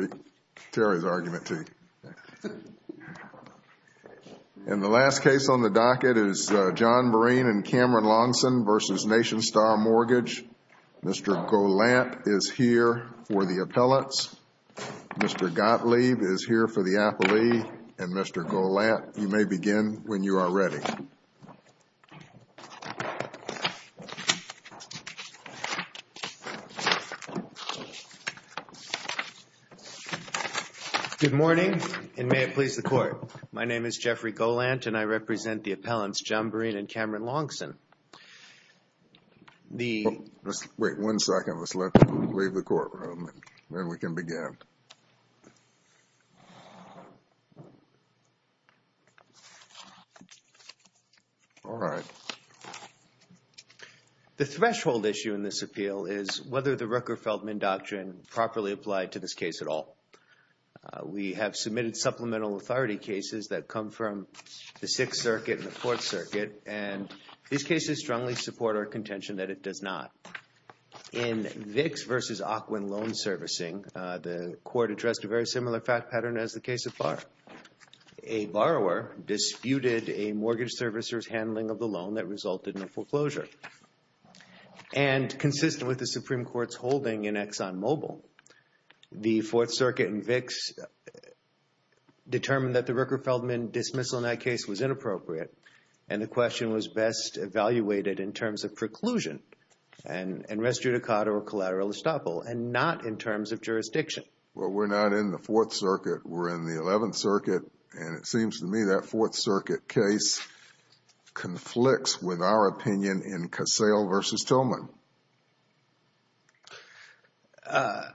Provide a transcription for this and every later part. And the last case on the docket is John Berene and Cameron Longson v. Nationstar Mortgage. Mr. Golant is here for the appellates. Mr. Gottlieb is here for the appellee. And Mr. Golant, you may begin when you are ready. Good morning, and may it please the Court. My name is Jeffrey Golant, and I represent the appellants John Berene and Cameron Longson. Wait one second. Let's leave the courtroom, and then we can begin. All right. The threshold issue in this appeal is whether the Rucker-Feldman Doctrine properly applied to this case at all. We have submitted supplemental authority cases that come from the Sixth Circuit and the Fourth Circuit, and these cases strongly support our contention that it does not. In Vicks v. Ocwen Loan Servicing, the Court addressed a very similar fact pattern as the case of Barr. A borrower disputed a mortgage servicer's handling of the loan that resulted in a foreclosure. And consistent with the Supreme Court's holding in ExxonMobil, the Fourth Circuit and Vicks determined that the Rucker-Feldman dismissal in that case was inappropriate, and the question was best evaluated in terms of preclusion and res judicata or collateral estoppel and not in terms of jurisdiction. Well, we're not in the Fourth Circuit. We're in the Eleventh Circuit, and it seems to me that Fourth Circuit case conflicts with our opinion in Cassell v. Tillman. I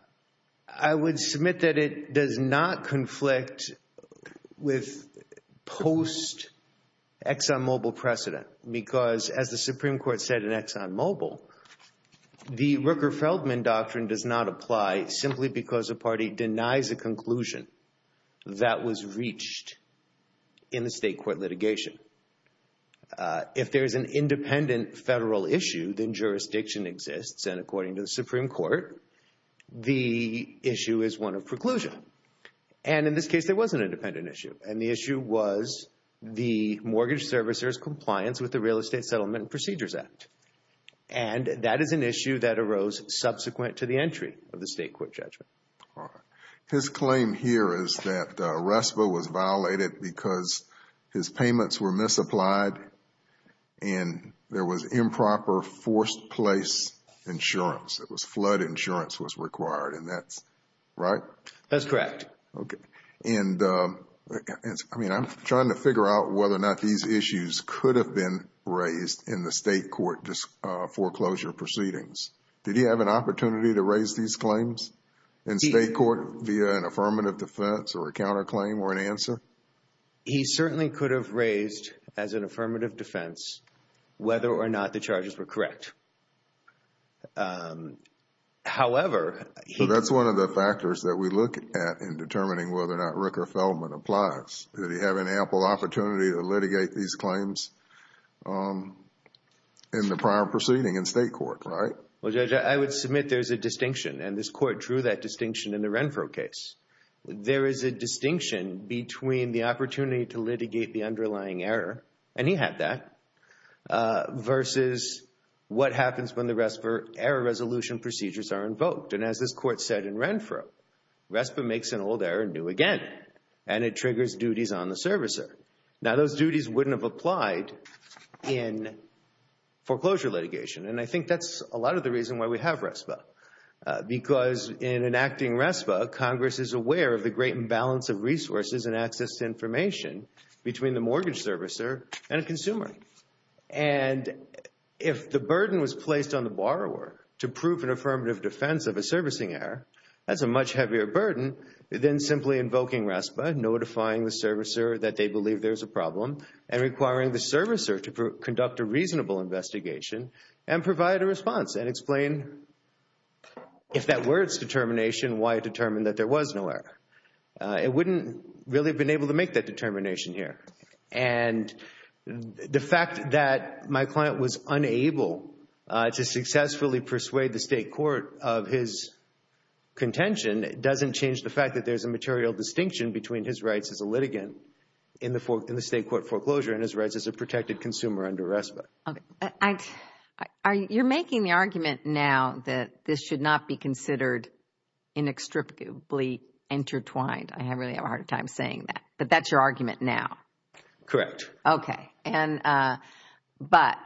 would submit that it does not conflict with post-ExxonMobil precedent because, as the Supreme Court said in ExxonMobil, the Rucker-Feldman doctrine does not apply simply because a party denies a conclusion that was reached in the state court litigation. If there is an independent federal issue, then jurisdiction exists, and according to the Supreme Court, the issue is one of preclusion. And in this case, there was an independent issue, and the issue was the mortgage servicer's compliance with the Real Estate Settlement Procedures Act. And that is an issue that arose subsequent to the entry of the state court judgment. All right. His claim here is that RESPA was violated because his payments were misapplied and there was improper forced place insurance. It was flood insurance was required, and that's right? That's correct. Okay. I'm trying to figure out whether or not these issues could have been raised in the state court foreclosure proceedings. Did he have an opportunity to raise these claims in state court via an affirmative defense or a counterclaim or an answer? He certainly could have raised, as an affirmative defense, whether or not the charges were correct. However. So that's one of the factors that we look at in determining whether or not Ricker-Feldman applies. Did he have an ample opportunity to litigate these claims in the prior proceeding in state court, right? Well, Judge, I would submit there's a distinction, and this Court drew that distinction in the Renfro case. There is a distinction between the opportunity to litigate the underlying error, and he had that, versus what happens when the RESPA error resolution procedures are invoked. And as this Court said in Renfro, RESPA makes an old error new again, and it triggers duties on the servicer. Now, those duties wouldn't have applied in foreclosure litigation, and I think that's a lot of the reason why we have RESPA. Because in enacting RESPA, Congress is aware of the great imbalance of resources and access to information between the mortgage servicer and a consumer. And if the burden was placed on the borrower to prove an affirmative defense of a servicing error, that's a much heavier burden than simply invoking RESPA, notifying the servicer that they believe there's a problem, and requiring the servicer to conduct a reasonable investigation and provide a response and explain if that were its determination, why it determined that there was no error. It wouldn't really have been able to make that determination here. And the fact that my client was unable to successfully persuade the State Court of his contention doesn't change the fact that there's a material distinction between his rights as a litigant in the State Court foreclosure and his rights as a protected consumer under RESPA. Okay. You're making the argument now that this should not be considered inextricably intertwined. I really have a hard time saying that. But that's your argument now? Correct. Okay. But,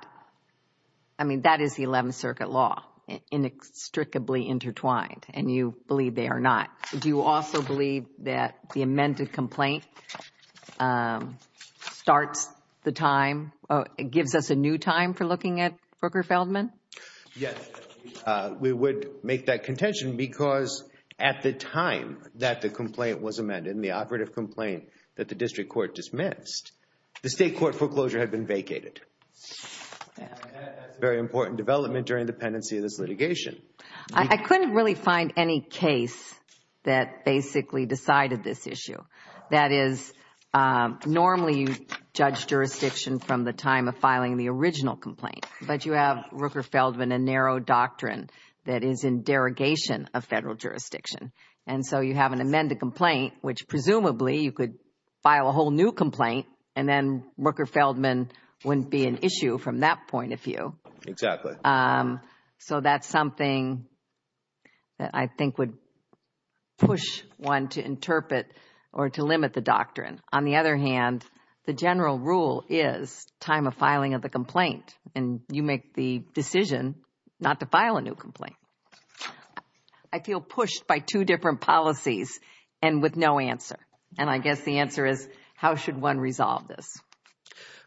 I mean, that is the Eleventh Circuit law, inextricably intertwined, and you believe they are not. Do you also believe that the amended complaint starts the time, gives us a new time for looking at Brooker Feldman? Yes. We would make that contention because at the time that the complaint was amended, in the operative complaint that the District Court dismissed, the State Court foreclosure had been vacated. That's a very important development during the pendency of this litigation. I couldn't really find any case that basically decided this issue. That is, normally you judge jurisdiction from the time of filing the original complaint, but you have Rooker Feldman, a narrow doctrine that is in derogation of federal jurisdiction. And so you have an amended complaint, which presumably you could file a whole new complaint, and then Rooker Feldman wouldn't be an issue from that point of view. Exactly. So that's something that I think would push one to interpret or to limit the doctrine. On the other hand, the general rule is time of filing of the complaint, and you make the decision not to file a new complaint. I feel pushed by two different policies and with no answer. And I guess the answer is, how should one resolve this?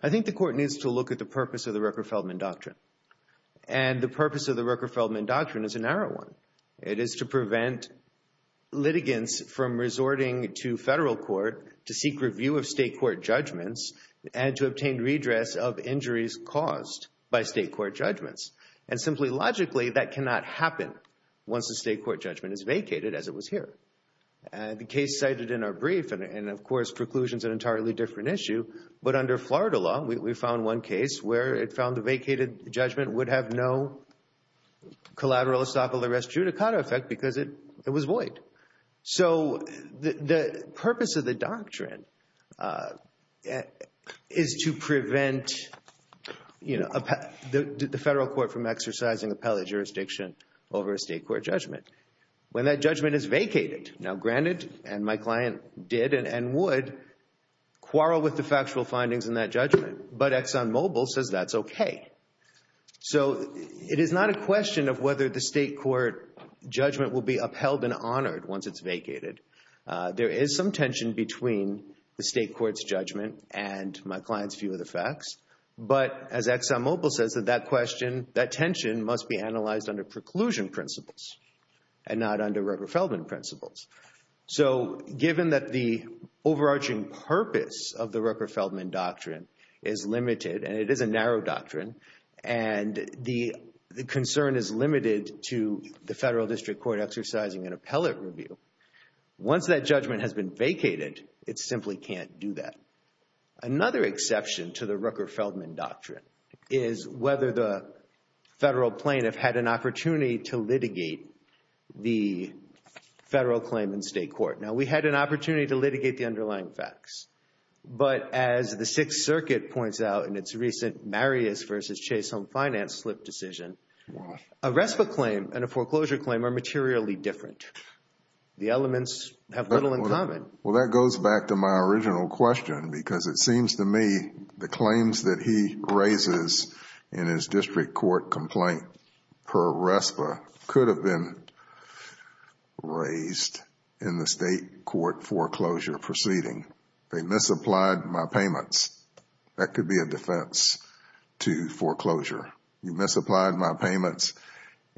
I think the court needs to look at the purpose of the Rooker Feldman doctrine. And the purpose of the Rooker Feldman doctrine is a narrow one. It is to prevent litigants from resorting to federal court to seek review of State Court judgments and to obtain redress of injuries caused by State Court judgments. And simply logically, that cannot happen once a State Court judgment is vacated, as it was here. The case cited in our brief, and of course preclusion is an entirely different issue, but under Florida law, we found one case where it found the vacated judgment would have no collateral estoppel arrest judicata effect because it was void. So the purpose of the doctrine is to prevent the federal court from exercising appellate jurisdiction over a State Court judgment. When that judgment is vacated, now granted, and my client did and would quarrel with the factual findings in that judgment, but ExxonMobil says that's okay. So it is not a question of whether the State Court judgment will be upheld and honored once it's vacated. There is some tension between the State Court's judgment and my client's view of the facts. But as ExxonMobil says, that question, that tension must be analyzed under preclusion principles and not under Rooker-Feldman principles. So given that the overarching purpose of the Rooker-Feldman doctrine is limited, and it is a narrow doctrine, and the concern is limited to the federal district court exercising an appellate review, once that judgment has been vacated, it simply can't do that. Another exception to the Rooker-Feldman doctrine is whether the federal plaintiff had an opportunity to litigate the federal claim in State Court. Now, we had an opportunity to litigate the underlying facts, but as the Sixth Circuit points out in its recent Marius v. Chase Home Finance slip decision, a RESPA claim and a foreclosure claim are materially different. The elements have little in common. Well, that goes back to my original question because it seems to me the claims that he raises in his district court complaint per RESPA could have been raised in the State Court foreclosure proceeding. They misapplied my payments. That could be a defense to foreclosure. You misapplied my payments,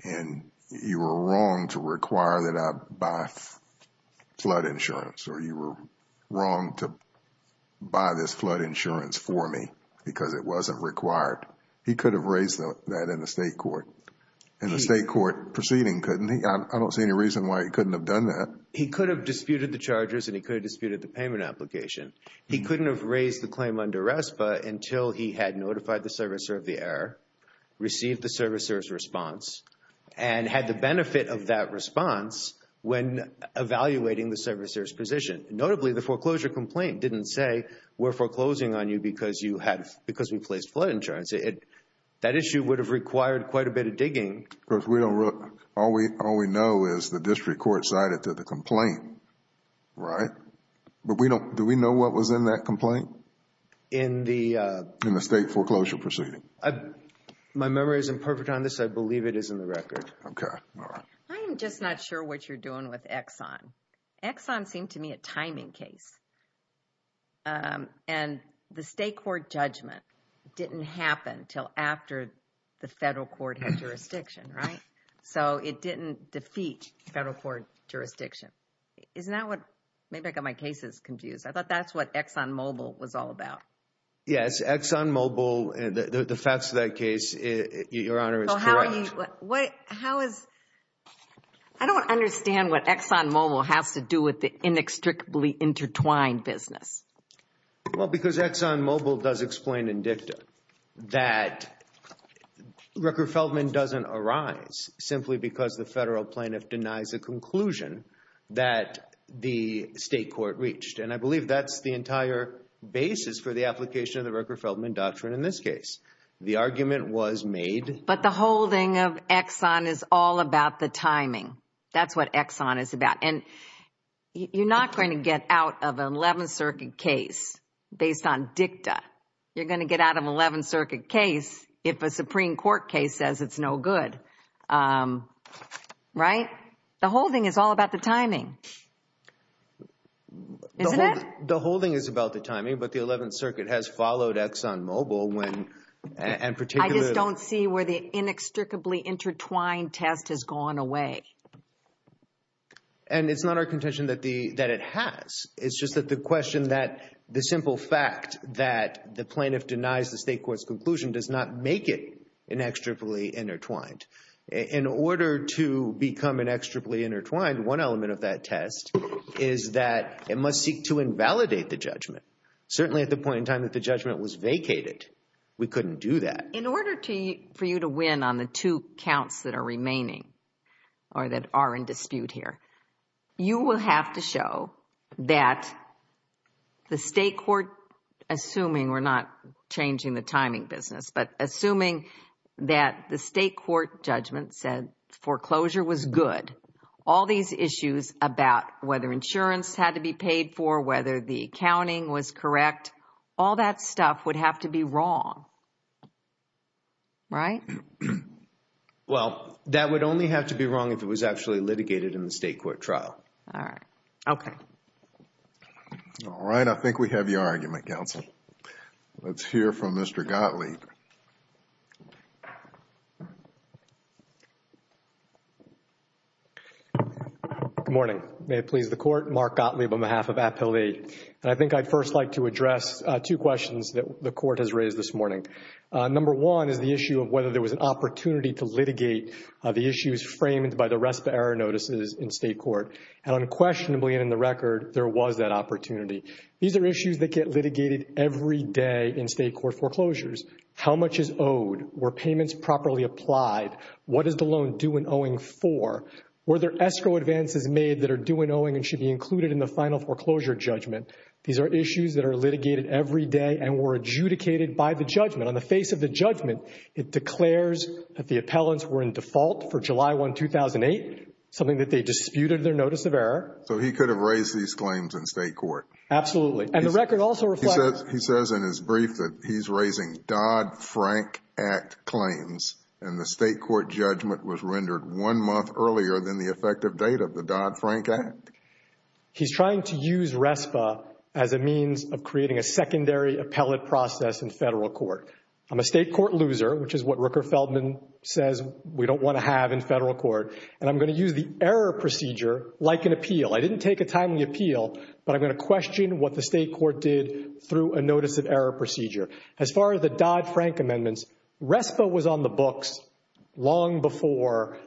and you were wrong to require that I buy flood insurance, or you were wrong to buy this flood insurance for me because it wasn't required. He could have raised that in the State Court. In the State Court proceeding, couldn't he? I don't see any reason why he couldn't have done that. He could have disputed the charges, and he could have disputed the payment application. He couldn't have raised the claim under RESPA until he had notified the servicer of the error, received the servicer's response, and had the benefit of that response when evaluating the servicer's position. Notably, the foreclosure complaint didn't say we're foreclosing on you because we placed flood insurance. That issue would have required quite a bit of digging. All we know is the district court cited to the complaint, right? Do we know what was in that complaint? In the State foreclosure proceeding. My memory isn't perfect on this. I believe it is in the record. Okay, all right. I'm just not sure what you're doing with Exxon. Exxon seemed to me a timing case. The State Court judgment didn't happen until after the federal court had jurisdiction, right? It didn't defeat federal court jurisdiction. Maybe I got my cases confused. I thought that's what Exxon Mobil was all about. Yes, Exxon Mobil, the facts of that case, Your Honor, is correct. I don't understand what Exxon Mobil has to do with the inextricably intertwined business. Well, because Exxon Mobil does explain in dicta that Rooker-Feldman doesn't arise simply because the federal plaintiff denies a conclusion that the State Court reached. And I believe that's the entire basis for the application of the Rooker-Feldman doctrine in this case. The argument was made— But the holding of Exxon is all about the timing. That's what Exxon is about. And you're not going to get out of an 11th Circuit case based on dicta. You're going to get out of an 11th Circuit case if a Supreme Court case says it's no good, right? The holding is all about the timing, isn't it? The holding is about the timing, but the 11th Circuit has followed Exxon Mobil when— I just don't see where the inextricably intertwined test has gone away. And it's not our contention that it has. It's just that the question that the simple fact that the plaintiff denies the State Court's conclusion does not make it inextricably intertwined. In order to become inextricably intertwined, one element of that test is that it must seek to invalidate the judgment. Certainly at the point in time that the judgment was vacated, we couldn't do that. But in order for you to win on the two counts that are remaining or that are in dispute here, you will have to show that the State Court, assuming we're not changing the timing business, but assuming that the State Court judgment said foreclosure was good, all these issues about whether insurance had to be paid for, whether the accounting was correct, all that stuff would have to be wrong, right? Well, that would only have to be wrong if it was actually litigated in the State Court trial. All right. Okay. All right. I think we have your argument, counsel. Let's hear from Mr. Gottlieb. Good morning. May it please the Court. Mark Gottlieb on behalf of Appellate. And I think I'd first like to address two questions that the Court has raised this morning. Number one is the issue of whether there was an opportunity to litigate the issues framed by the RESPA error notices in State Court. And unquestionably, and in the record, there was that opportunity. These are issues that get litigated every day in State Court foreclosures. How much is owed? Were payments properly applied? What is the loan due and owing for? Were there escrow advances made that are due and owing and should be included in the final foreclosure judgment? These are issues that are litigated every day and were adjudicated by the judgment. On the face of the judgment, it declares that the appellants were in default for July 1, 2008, something that they disputed their notice of error. So he could have raised these claims in State Court. Absolutely. And the record also reflects… He says in his brief that he's raising Dodd-Frank Act claims and the State Court judgment was rendered one month earlier than the effective date of the Dodd-Frank Act. He's trying to use RESPA as a means of creating a secondary appellate process in Federal Court. I'm a State Court loser, which is what Rooker Feldman says we don't want to have in Federal Court, and I'm going to use the error procedure like an appeal. I didn't take a timely appeal, but I'm going to question what the State Court did through a notice of error procedure. As far as the Dodd-Frank amendments, RESPA was on the books long before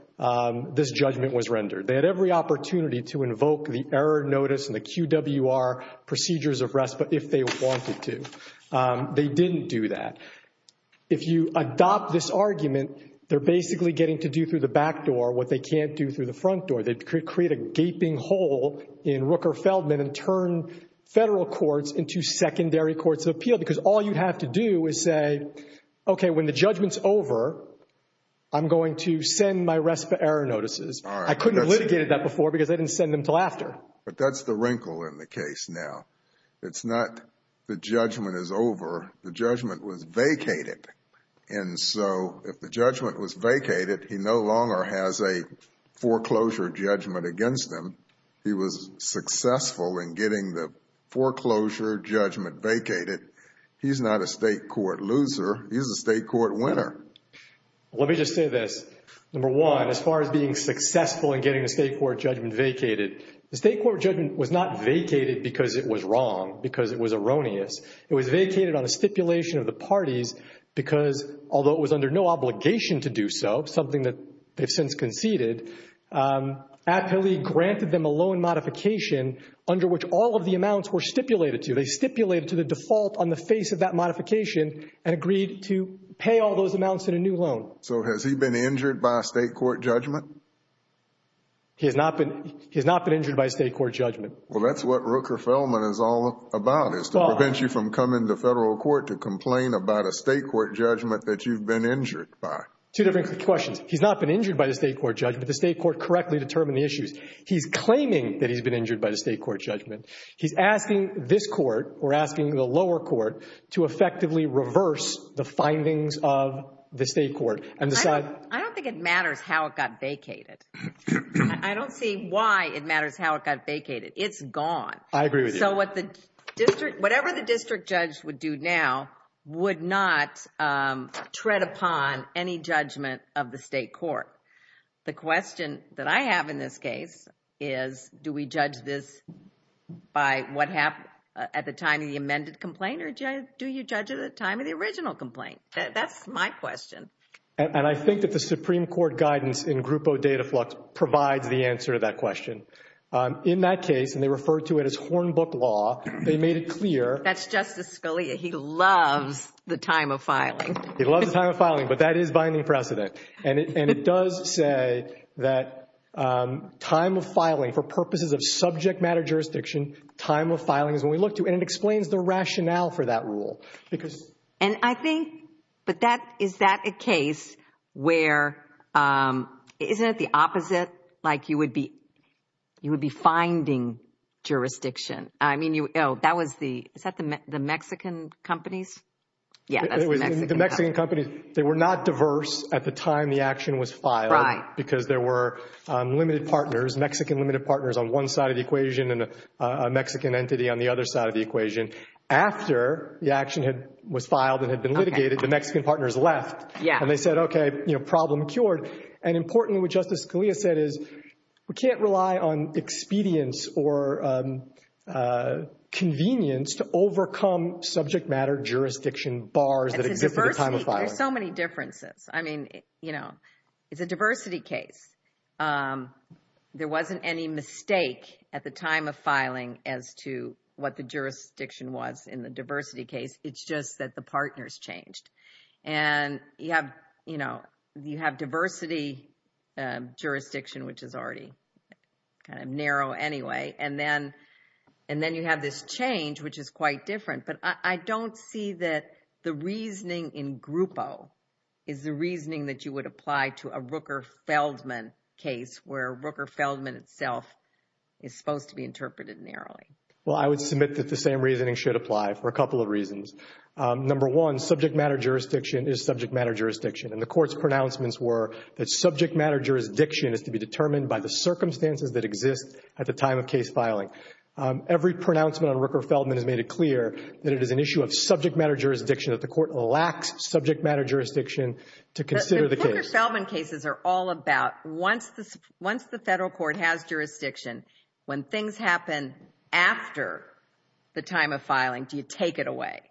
this judgment was rendered. They had every opportunity to invoke the error notice and the QWR procedures of RESPA if they wanted to. They didn't do that. If you adopt this argument, they're basically getting to do through the back door what they can't do through the front door. They create a gaping hole in Rooker Feldman and turn Federal Courts into secondary courts of appeal because all you have to do is say, okay, when the judgment's over, I'm going to send my RESPA error notices. I couldn't have litigated that before because I didn't send them until after. But that's the wrinkle in the case now. It's not the judgment is over. The judgment was vacated. And so if the judgment was vacated, he no longer has a foreclosure judgment against him. He was successful in getting the foreclosure judgment vacated. He's not a State Court loser. He's a State Court winner. Let me just say this. Number one, as far as being successful in getting the State Court judgment vacated, the State Court judgment was not vacated because it was wrong, because it was erroneous. It was vacated on a stipulation of the parties because, although it was under no obligation to do so, something that they've since conceded, Appellee granted them a loan modification under which all of the amounts were stipulated to. They stipulated to the default on the face of that modification and agreed to pay all those amounts in a new loan. So has he been injured by a State Court judgment? He has not been injured by a State Court judgment. Well, that's what Rooker-Feldman is all about, is to prevent you from coming to federal court to complain about a State Court judgment that you've been injured by. Two different questions. He's not been injured by the State Court judgment. The State Court correctly determined the issues. He's claiming that he's been injured by the State Court judgment. He's asking this court or asking the lower court to effectively reverse the findings of the State Court and decide— I don't think it matters how it got vacated. I don't see why it matters how it got vacated. It's gone. I agree with you. So whatever the district judge would do now would not tread upon any judgment of the State Court. The question that I have in this case is do we judge this by what happened at the time of the amended complaint or do you judge it at the time of the original complaint? That's my question. And I think that the Supreme Court guidance in Grupo Dataflux provides the answer to that question. In that case, and they refer to it as Hornbook law, they made it clear— That's Justice Scalia. He loves the time of filing. He loves the time of filing, but that is binding precedent. And it does say that time of filing for purposes of subject matter jurisdiction, time of filing is when we look to— and it explains the rationale for that rule. And I think—but is that a case where—isn't it the opposite? Like you would be finding jurisdiction? I mean, that was the—is that the Mexican companies? Yeah, that's the Mexican companies. The Mexican companies, they were not diverse at the time the action was filed because there were limited partners, Mexican limited partners on one side of the equation and a Mexican entity on the other side of the equation. After the action was filed and had been litigated, the Mexican partners left. And they said, okay, problem cured. And importantly, what Justice Scalia said is we can't rely on expedience or convenience to overcome subject matter jurisdiction bars that exist at the time of filing. There's so many differences. I mean, you know, it's a diversity case. There wasn't any mistake at the time of filing as to what the jurisdiction was in the diversity case. It's just that the partners changed. And you have, you know, you have diversity jurisdiction, which is already kind of narrow anyway. And then you have this change, which is quite different. But I don't see that the reasoning in Grupo is the reasoning that you would apply to a Rooker-Feldman case, where Rooker-Feldman itself is supposed to be interpreted narrowly. Well, I would submit that the same reasoning should apply for a couple of reasons. Number one, subject matter jurisdiction is subject matter jurisdiction. And the Court's pronouncements were that subject matter jurisdiction is to be determined by the circumstances that exist at the time of case filing. Every pronouncement on Rooker-Feldman has made it clear that it is an issue of subject matter jurisdiction, that the Court lacks subject matter jurisdiction to consider the case. But the Rooker-Feldman cases are all about once the Federal Court has jurisdiction, when things happen after the time of filing, do you take it away?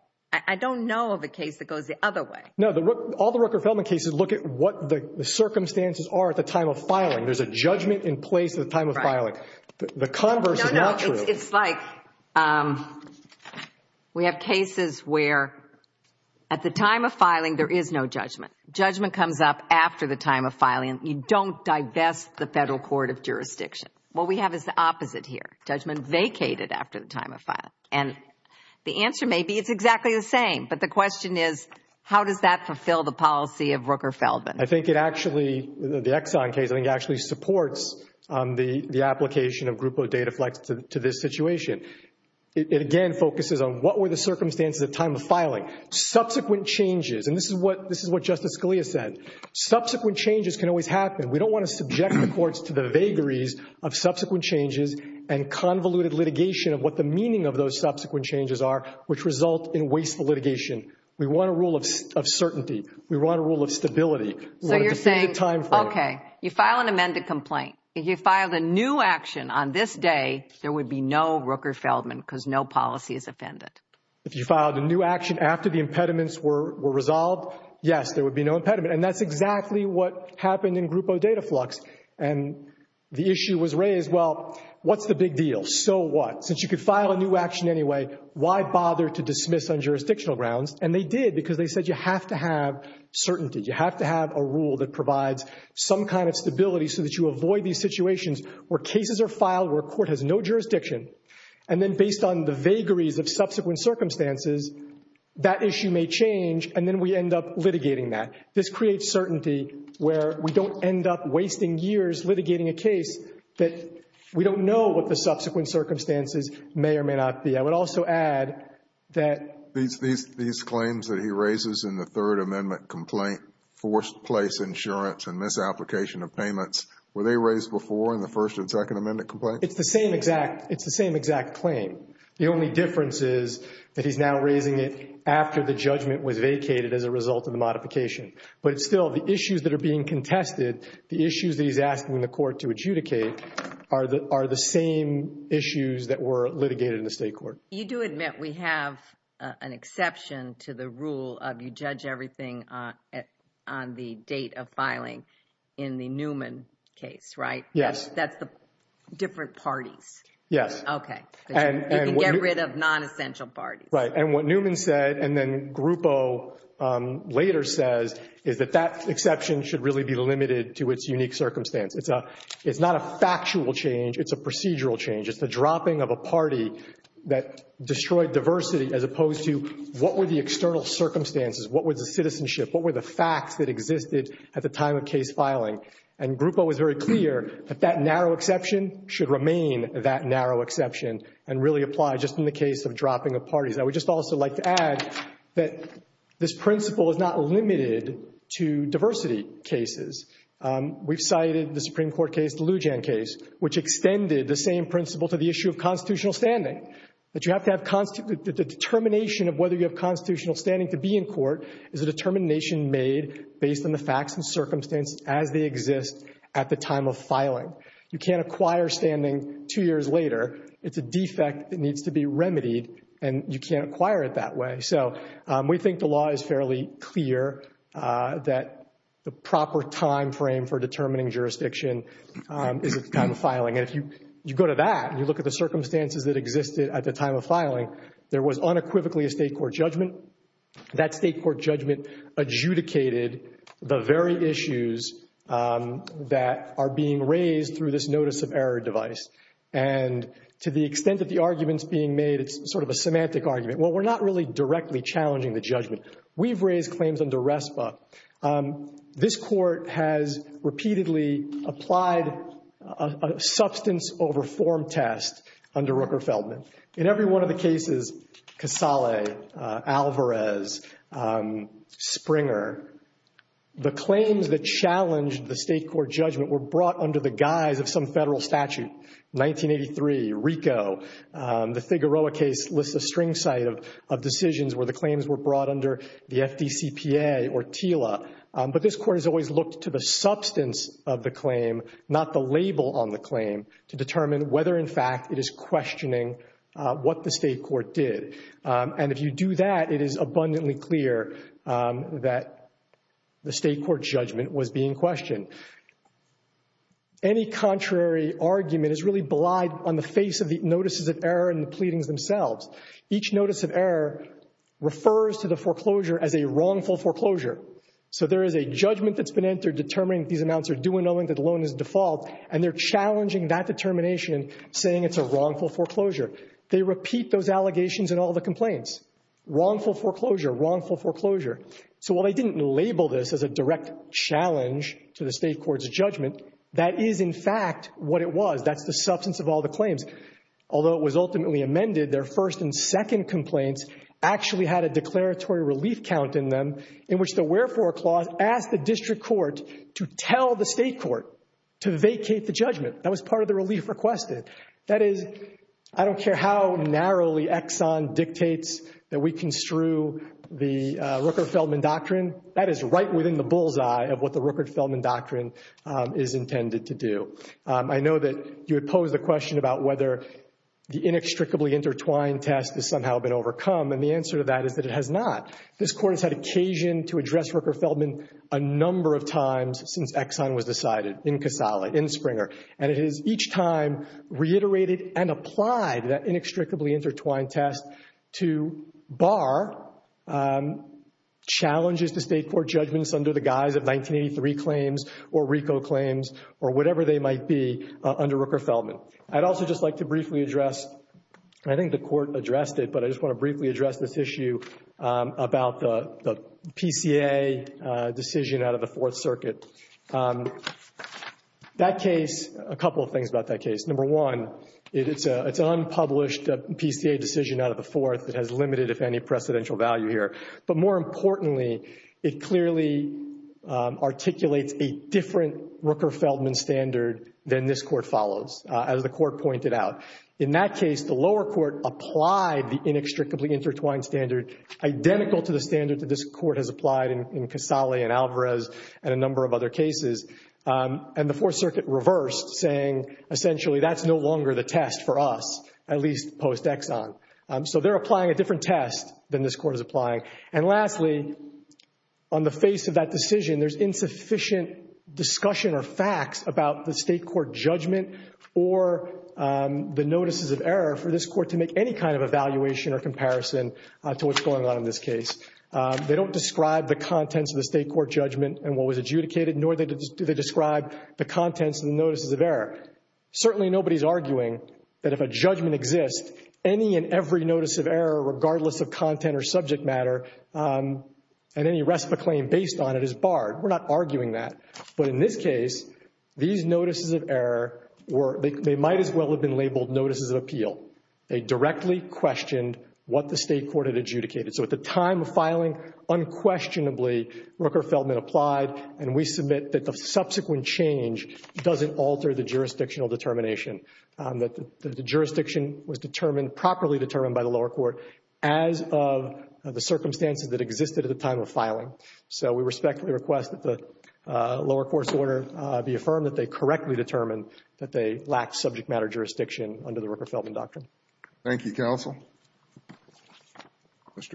I don't know of a case that goes the other way. No, all the Rooker-Feldman cases look at what the circumstances are at the time of filing. There's a judgment in place at the time of filing. No, no, it's like we have cases where at the time of filing there is no judgment. Judgment comes up after the time of filing. You don't divest the Federal Court of Jurisdiction. What we have is the opposite here. Judgment vacated after the time of filing. And the answer may be it's exactly the same. But the question is, how does that fulfill the policy of Rooker-Feldman? I think it actually, the Exxon case, I think actually supports the application of Grupo Dataflex to this situation. It again focuses on what were the circumstances at the time of filing. Subsequent changes, and this is what Justice Scalia said. Subsequent changes can always happen. We don't want to subject the courts to the vagaries of subsequent changes and convoluted litigation of what the meaning of those subsequent changes are, which result in wasteful litigation. We want a rule of certainty. We want a rule of stability. So you're saying, okay, you file an amended complaint. If you filed a new action on this day, there would be no Rooker-Feldman because no policy is offended. If you filed a new action after the impediments were resolved, yes, there would be no impediment. And that's exactly what happened in Grupo Dataflex. And the issue was raised, well, what's the big deal? So what? Since you could file a new action anyway, why bother to dismiss on jurisdictional grounds? And they did because they said you have to have certainty. You have to have a rule that provides some kind of stability so that you avoid these situations where cases are filed, where a court has no jurisdiction, and then based on the vagaries of subsequent circumstances, that issue may change and then we end up litigating that. This creates certainty where we don't end up wasting years litigating a case that we don't know what the subsequent circumstances may or may not be. I would also add that these claims that he raises in the Third Amendment complaint, forced place insurance and misapplication of payments, were they raised before in the First and Second Amendment complaint? It's the same exact claim. The only difference is that he's now raising it after the judgment was vacated as a result of the modification. But still, the issues that are being contested, the issues that he's asking the court to adjudicate, are the same issues that were litigated in the state court. You do admit we have an exception to the rule of you judge everything on the date of filing in the Newman case, right? Yes. That's the different parties. Yes. Okay. You can get rid of non-essential parties. Right. And what Newman said and then Grupo later says is that that exception should really be limited to its unique circumstance. It's not a factual change, it's a procedural change. It's the dropping of a party that destroyed diversity, as opposed to what were the external circumstances, what was the citizenship, what were the facts that existed at the time of case filing. And Grupo was very clear that that narrow exception should remain that narrow exception and really apply just in the case of dropping of parties. I would just also like to add that this principle is not limited to diversity cases. We've cited the Supreme Court case, the Lujan case, which extended the same principle to the issue of constitutional standing, that you have to have the determination of whether you have constitutional standing to be in court is a determination made based on the facts and circumstance as they exist at the time of filing. You can't acquire standing two years later. It's a defect that needs to be remedied, and you can't acquire it that way. So we think the law is fairly clear that the proper timeframe for determining jurisdiction is at the time of filing. And if you go to that and you look at the circumstances that existed at the time of filing, there was unequivocally a state court judgment. That state court judgment adjudicated the very issues that are being raised through this notice of error device. And to the extent that the argument's being made, it's sort of a semantic argument. Well, we're not really directly challenging the judgment. We've raised claims under RESPA. This court has repeatedly applied a substance over form test under Rooker Feldman. In every one of the cases, Casale, Alvarez, Springer, the claims that challenged the state court judgment were brought under the guise of some federal statute. 1983, RICO, the Figueroa case lists a string site of decisions where the claims were brought under the FDCPA or TILA. But this court has always looked to the substance of the claim, not the label on the claim, to determine whether in fact it is questioning what the state court did. And if you do that, it is abundantly clear that the state court judgment was being questioned. Any contrary argument is really belied on the face of the notices of error and the pleadings themselves. Each notice of error refers to the foreclosure as a wrongful foreclosure. So there is a judgment that's been entered determining that these amounts are due and knowing that the loan is default, and they're challenging that determination, saying it's a wrongful foreclosure. They repeat those allegations in all the complaints. Wrongful foreclosure, wrongful foreclosure. So while they didn't label this as a direct challenge to the state court's judgment, that is in fact what it was. That's the substance of all the claims. Although it was ultimately amended, their first and second complaints actually had a declaratory relief count in them in which the wherefore clause asked the district court to tell the state court to vacate the judgment. That was part of the relief requested. That is, I don't care how narrowly Exxon dictates that we construe the Rooker-Feldman doctrine, that is right within the bullseye of what the Rooker-Feldman doctrine is intended to do. I know that you had posed a question about whether the inextricably intertwined test has somehow been overcome, and the answer to that is that it has not. This court has had occasion to address Rooker-Feldman a number of times since Exxon was decided, in Casale, in Springer. And it has each time reiterated and applied that inextricably intertwined test to bar challenges to state court judgments under the guise of 1983 claims or RICO claims or whatever they might be under Rooker-Feldman. I'd also just like to briefly address, I think the court addressed it, but I just want to briefly address this issue about the PCA decision out of the Fourth Circuit. That case, a couple of things about that case. Number one, it's an unpublished PCA decision out of the Fourth that has limited, if any, precedential value here. But more importantly, it clearly articulates a different Rooker-Feldman standard than this court follows, as the court pointed out. In that case, the lower court applied the inextricably intertwined standard identical to the standard that this court has applied in Casale and Alvarez and a number of other cases. And the Fourth Circuit reversed, saying essentially that's no longer the test for us, at least post-Exxon. So they're applying a different test than this court is applying. And lastly, on the face of that decision, there's insufficient discussion or facts about the state court judgment or the notices of error for this court to make any kind of evaluation or comparison to what's going on in this case. They don't describe the contents of the state court judgment and what was described in the notices of error. Certainly nobody's arguing that if a judgment exists, any and every notice of error, regardless of content or subject matter, and any rest of the claim based on it is barred. We're not arguing that. But in this case, these notices of error, they might as well have been labeled notices of appeal. They directly questioned what the state court had adjudicated. So at the time of filing, unquestionably, Rooker-Feldman applied, and we submit that the subsequent change doesn't alter the jurisdictional determination, that the jurisdiction was properly determined by the lower court as of the circumstances that existed at the time of filing. So we respectfully request that the lower court's order be affirmed that they correctly determined that they lacked subject matter jurisdiction under the Rooker-Feldman doctrine. Thank you, counsel. Thank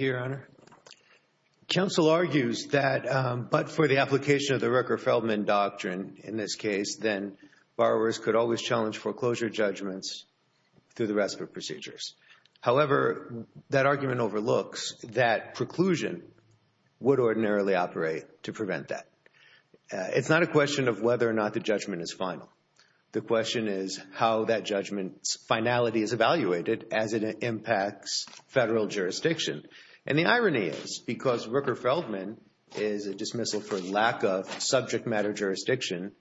you, Your Honor. Counsel argues that but for the application of the Rooker-Feldman doctrine in this case, then borrowers could always challenge foreclosure judgments through the rest of the procedures. However, that argument overlooks that preclusion would ordinarily operate to prevent that. It's not a question of whether or not the judgment is final. The question is how that judgment's finality is evaluated as it impacts federal jurisdiction. And the irony is because Rooker-Feldman is a dismissal for lack of subject matter jurisdiction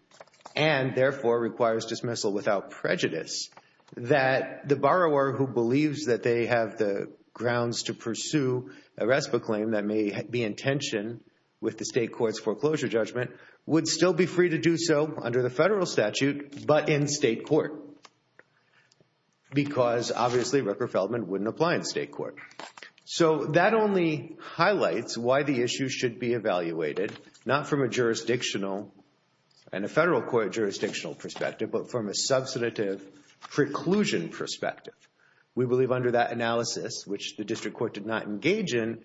and, therefore, requires dismissal without prejudice, that the borrower who believes that they have the grounds to pursue a RESPA claim that may be in tension with the state court's foreclosure judgment would still be free to do so under the federal statute but in state court because, obviously, Rooker-Feldman wouldn't apply in state court. So that only highlights why the issue should be evaluated, not from a jurisdictional and a federal court jurisdictional perspective, but from a substantive preclusion perspective. We believe under that analysis, which the district court did not engage in,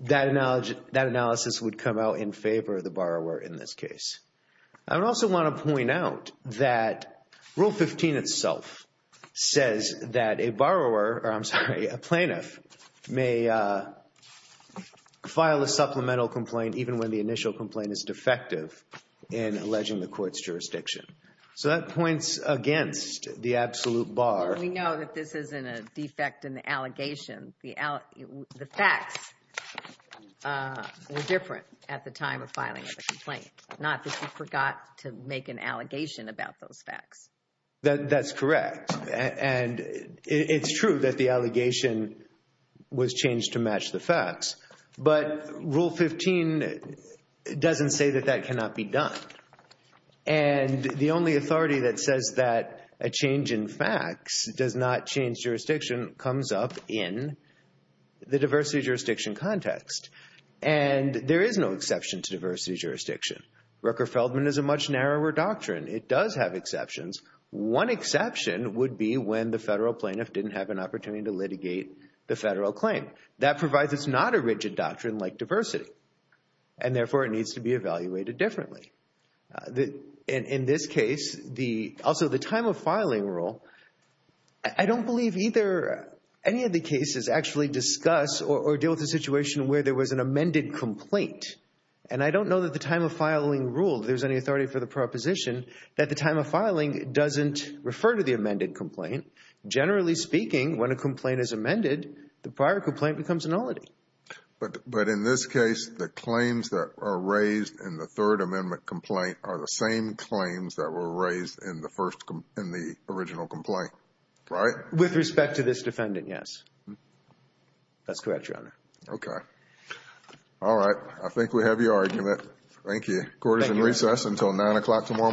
that analysis would come out in favor of the borrower in this case. I would also want to point out that Rule 15 itself says that a borrower, or I'm sorry, a plaintiff may file a supplemental complaint even when the initial complaint is defective in alleging the court's jurisdiction. So that points against the absolute bar. We know that this isn't a defect in the allegation. The facts were different at the time of filing the complaint, not that you forgot to make an allegation about those facts. That's correct. And it's true that the allegation was changed to match the facts, but Rule 15 doesn't say that that cannot be done. And the only authority that says that a change in facts does not change jurisdiction comes up in the diversity jurisdiction context. And there is no exception to diversity jurisdiction. Rooker-Feldman is a much narrower doctrine. It does have exceptions. One exception would be when the federal plaintiff didn't have an opportunity to litigate the federal claim. That provides it's not a rigid doctrine like diversity, and therefore it needs to be evaluated differently. In this case, also the time of filing rule, I don't believe either any of the cases actually discuss or deal with the situation where there was an amended complaint. And I don't know that the time of filing rule, if there's any authority for the proposition, that the time of filing doesn't refer to the amended complaint. Generally speaking, when a complaint is amended, the prior complaint becomes a nullity. But in this case, the claims that are raised in the Third Amendment complaint are the same claims that were raised in the original complaint, right? With respect to this defendant, yes. That's correct, Your Honor. Okay. All right. I think we have your argument. Thank you. Court is in recess until 9 o'clock tomorrow morning.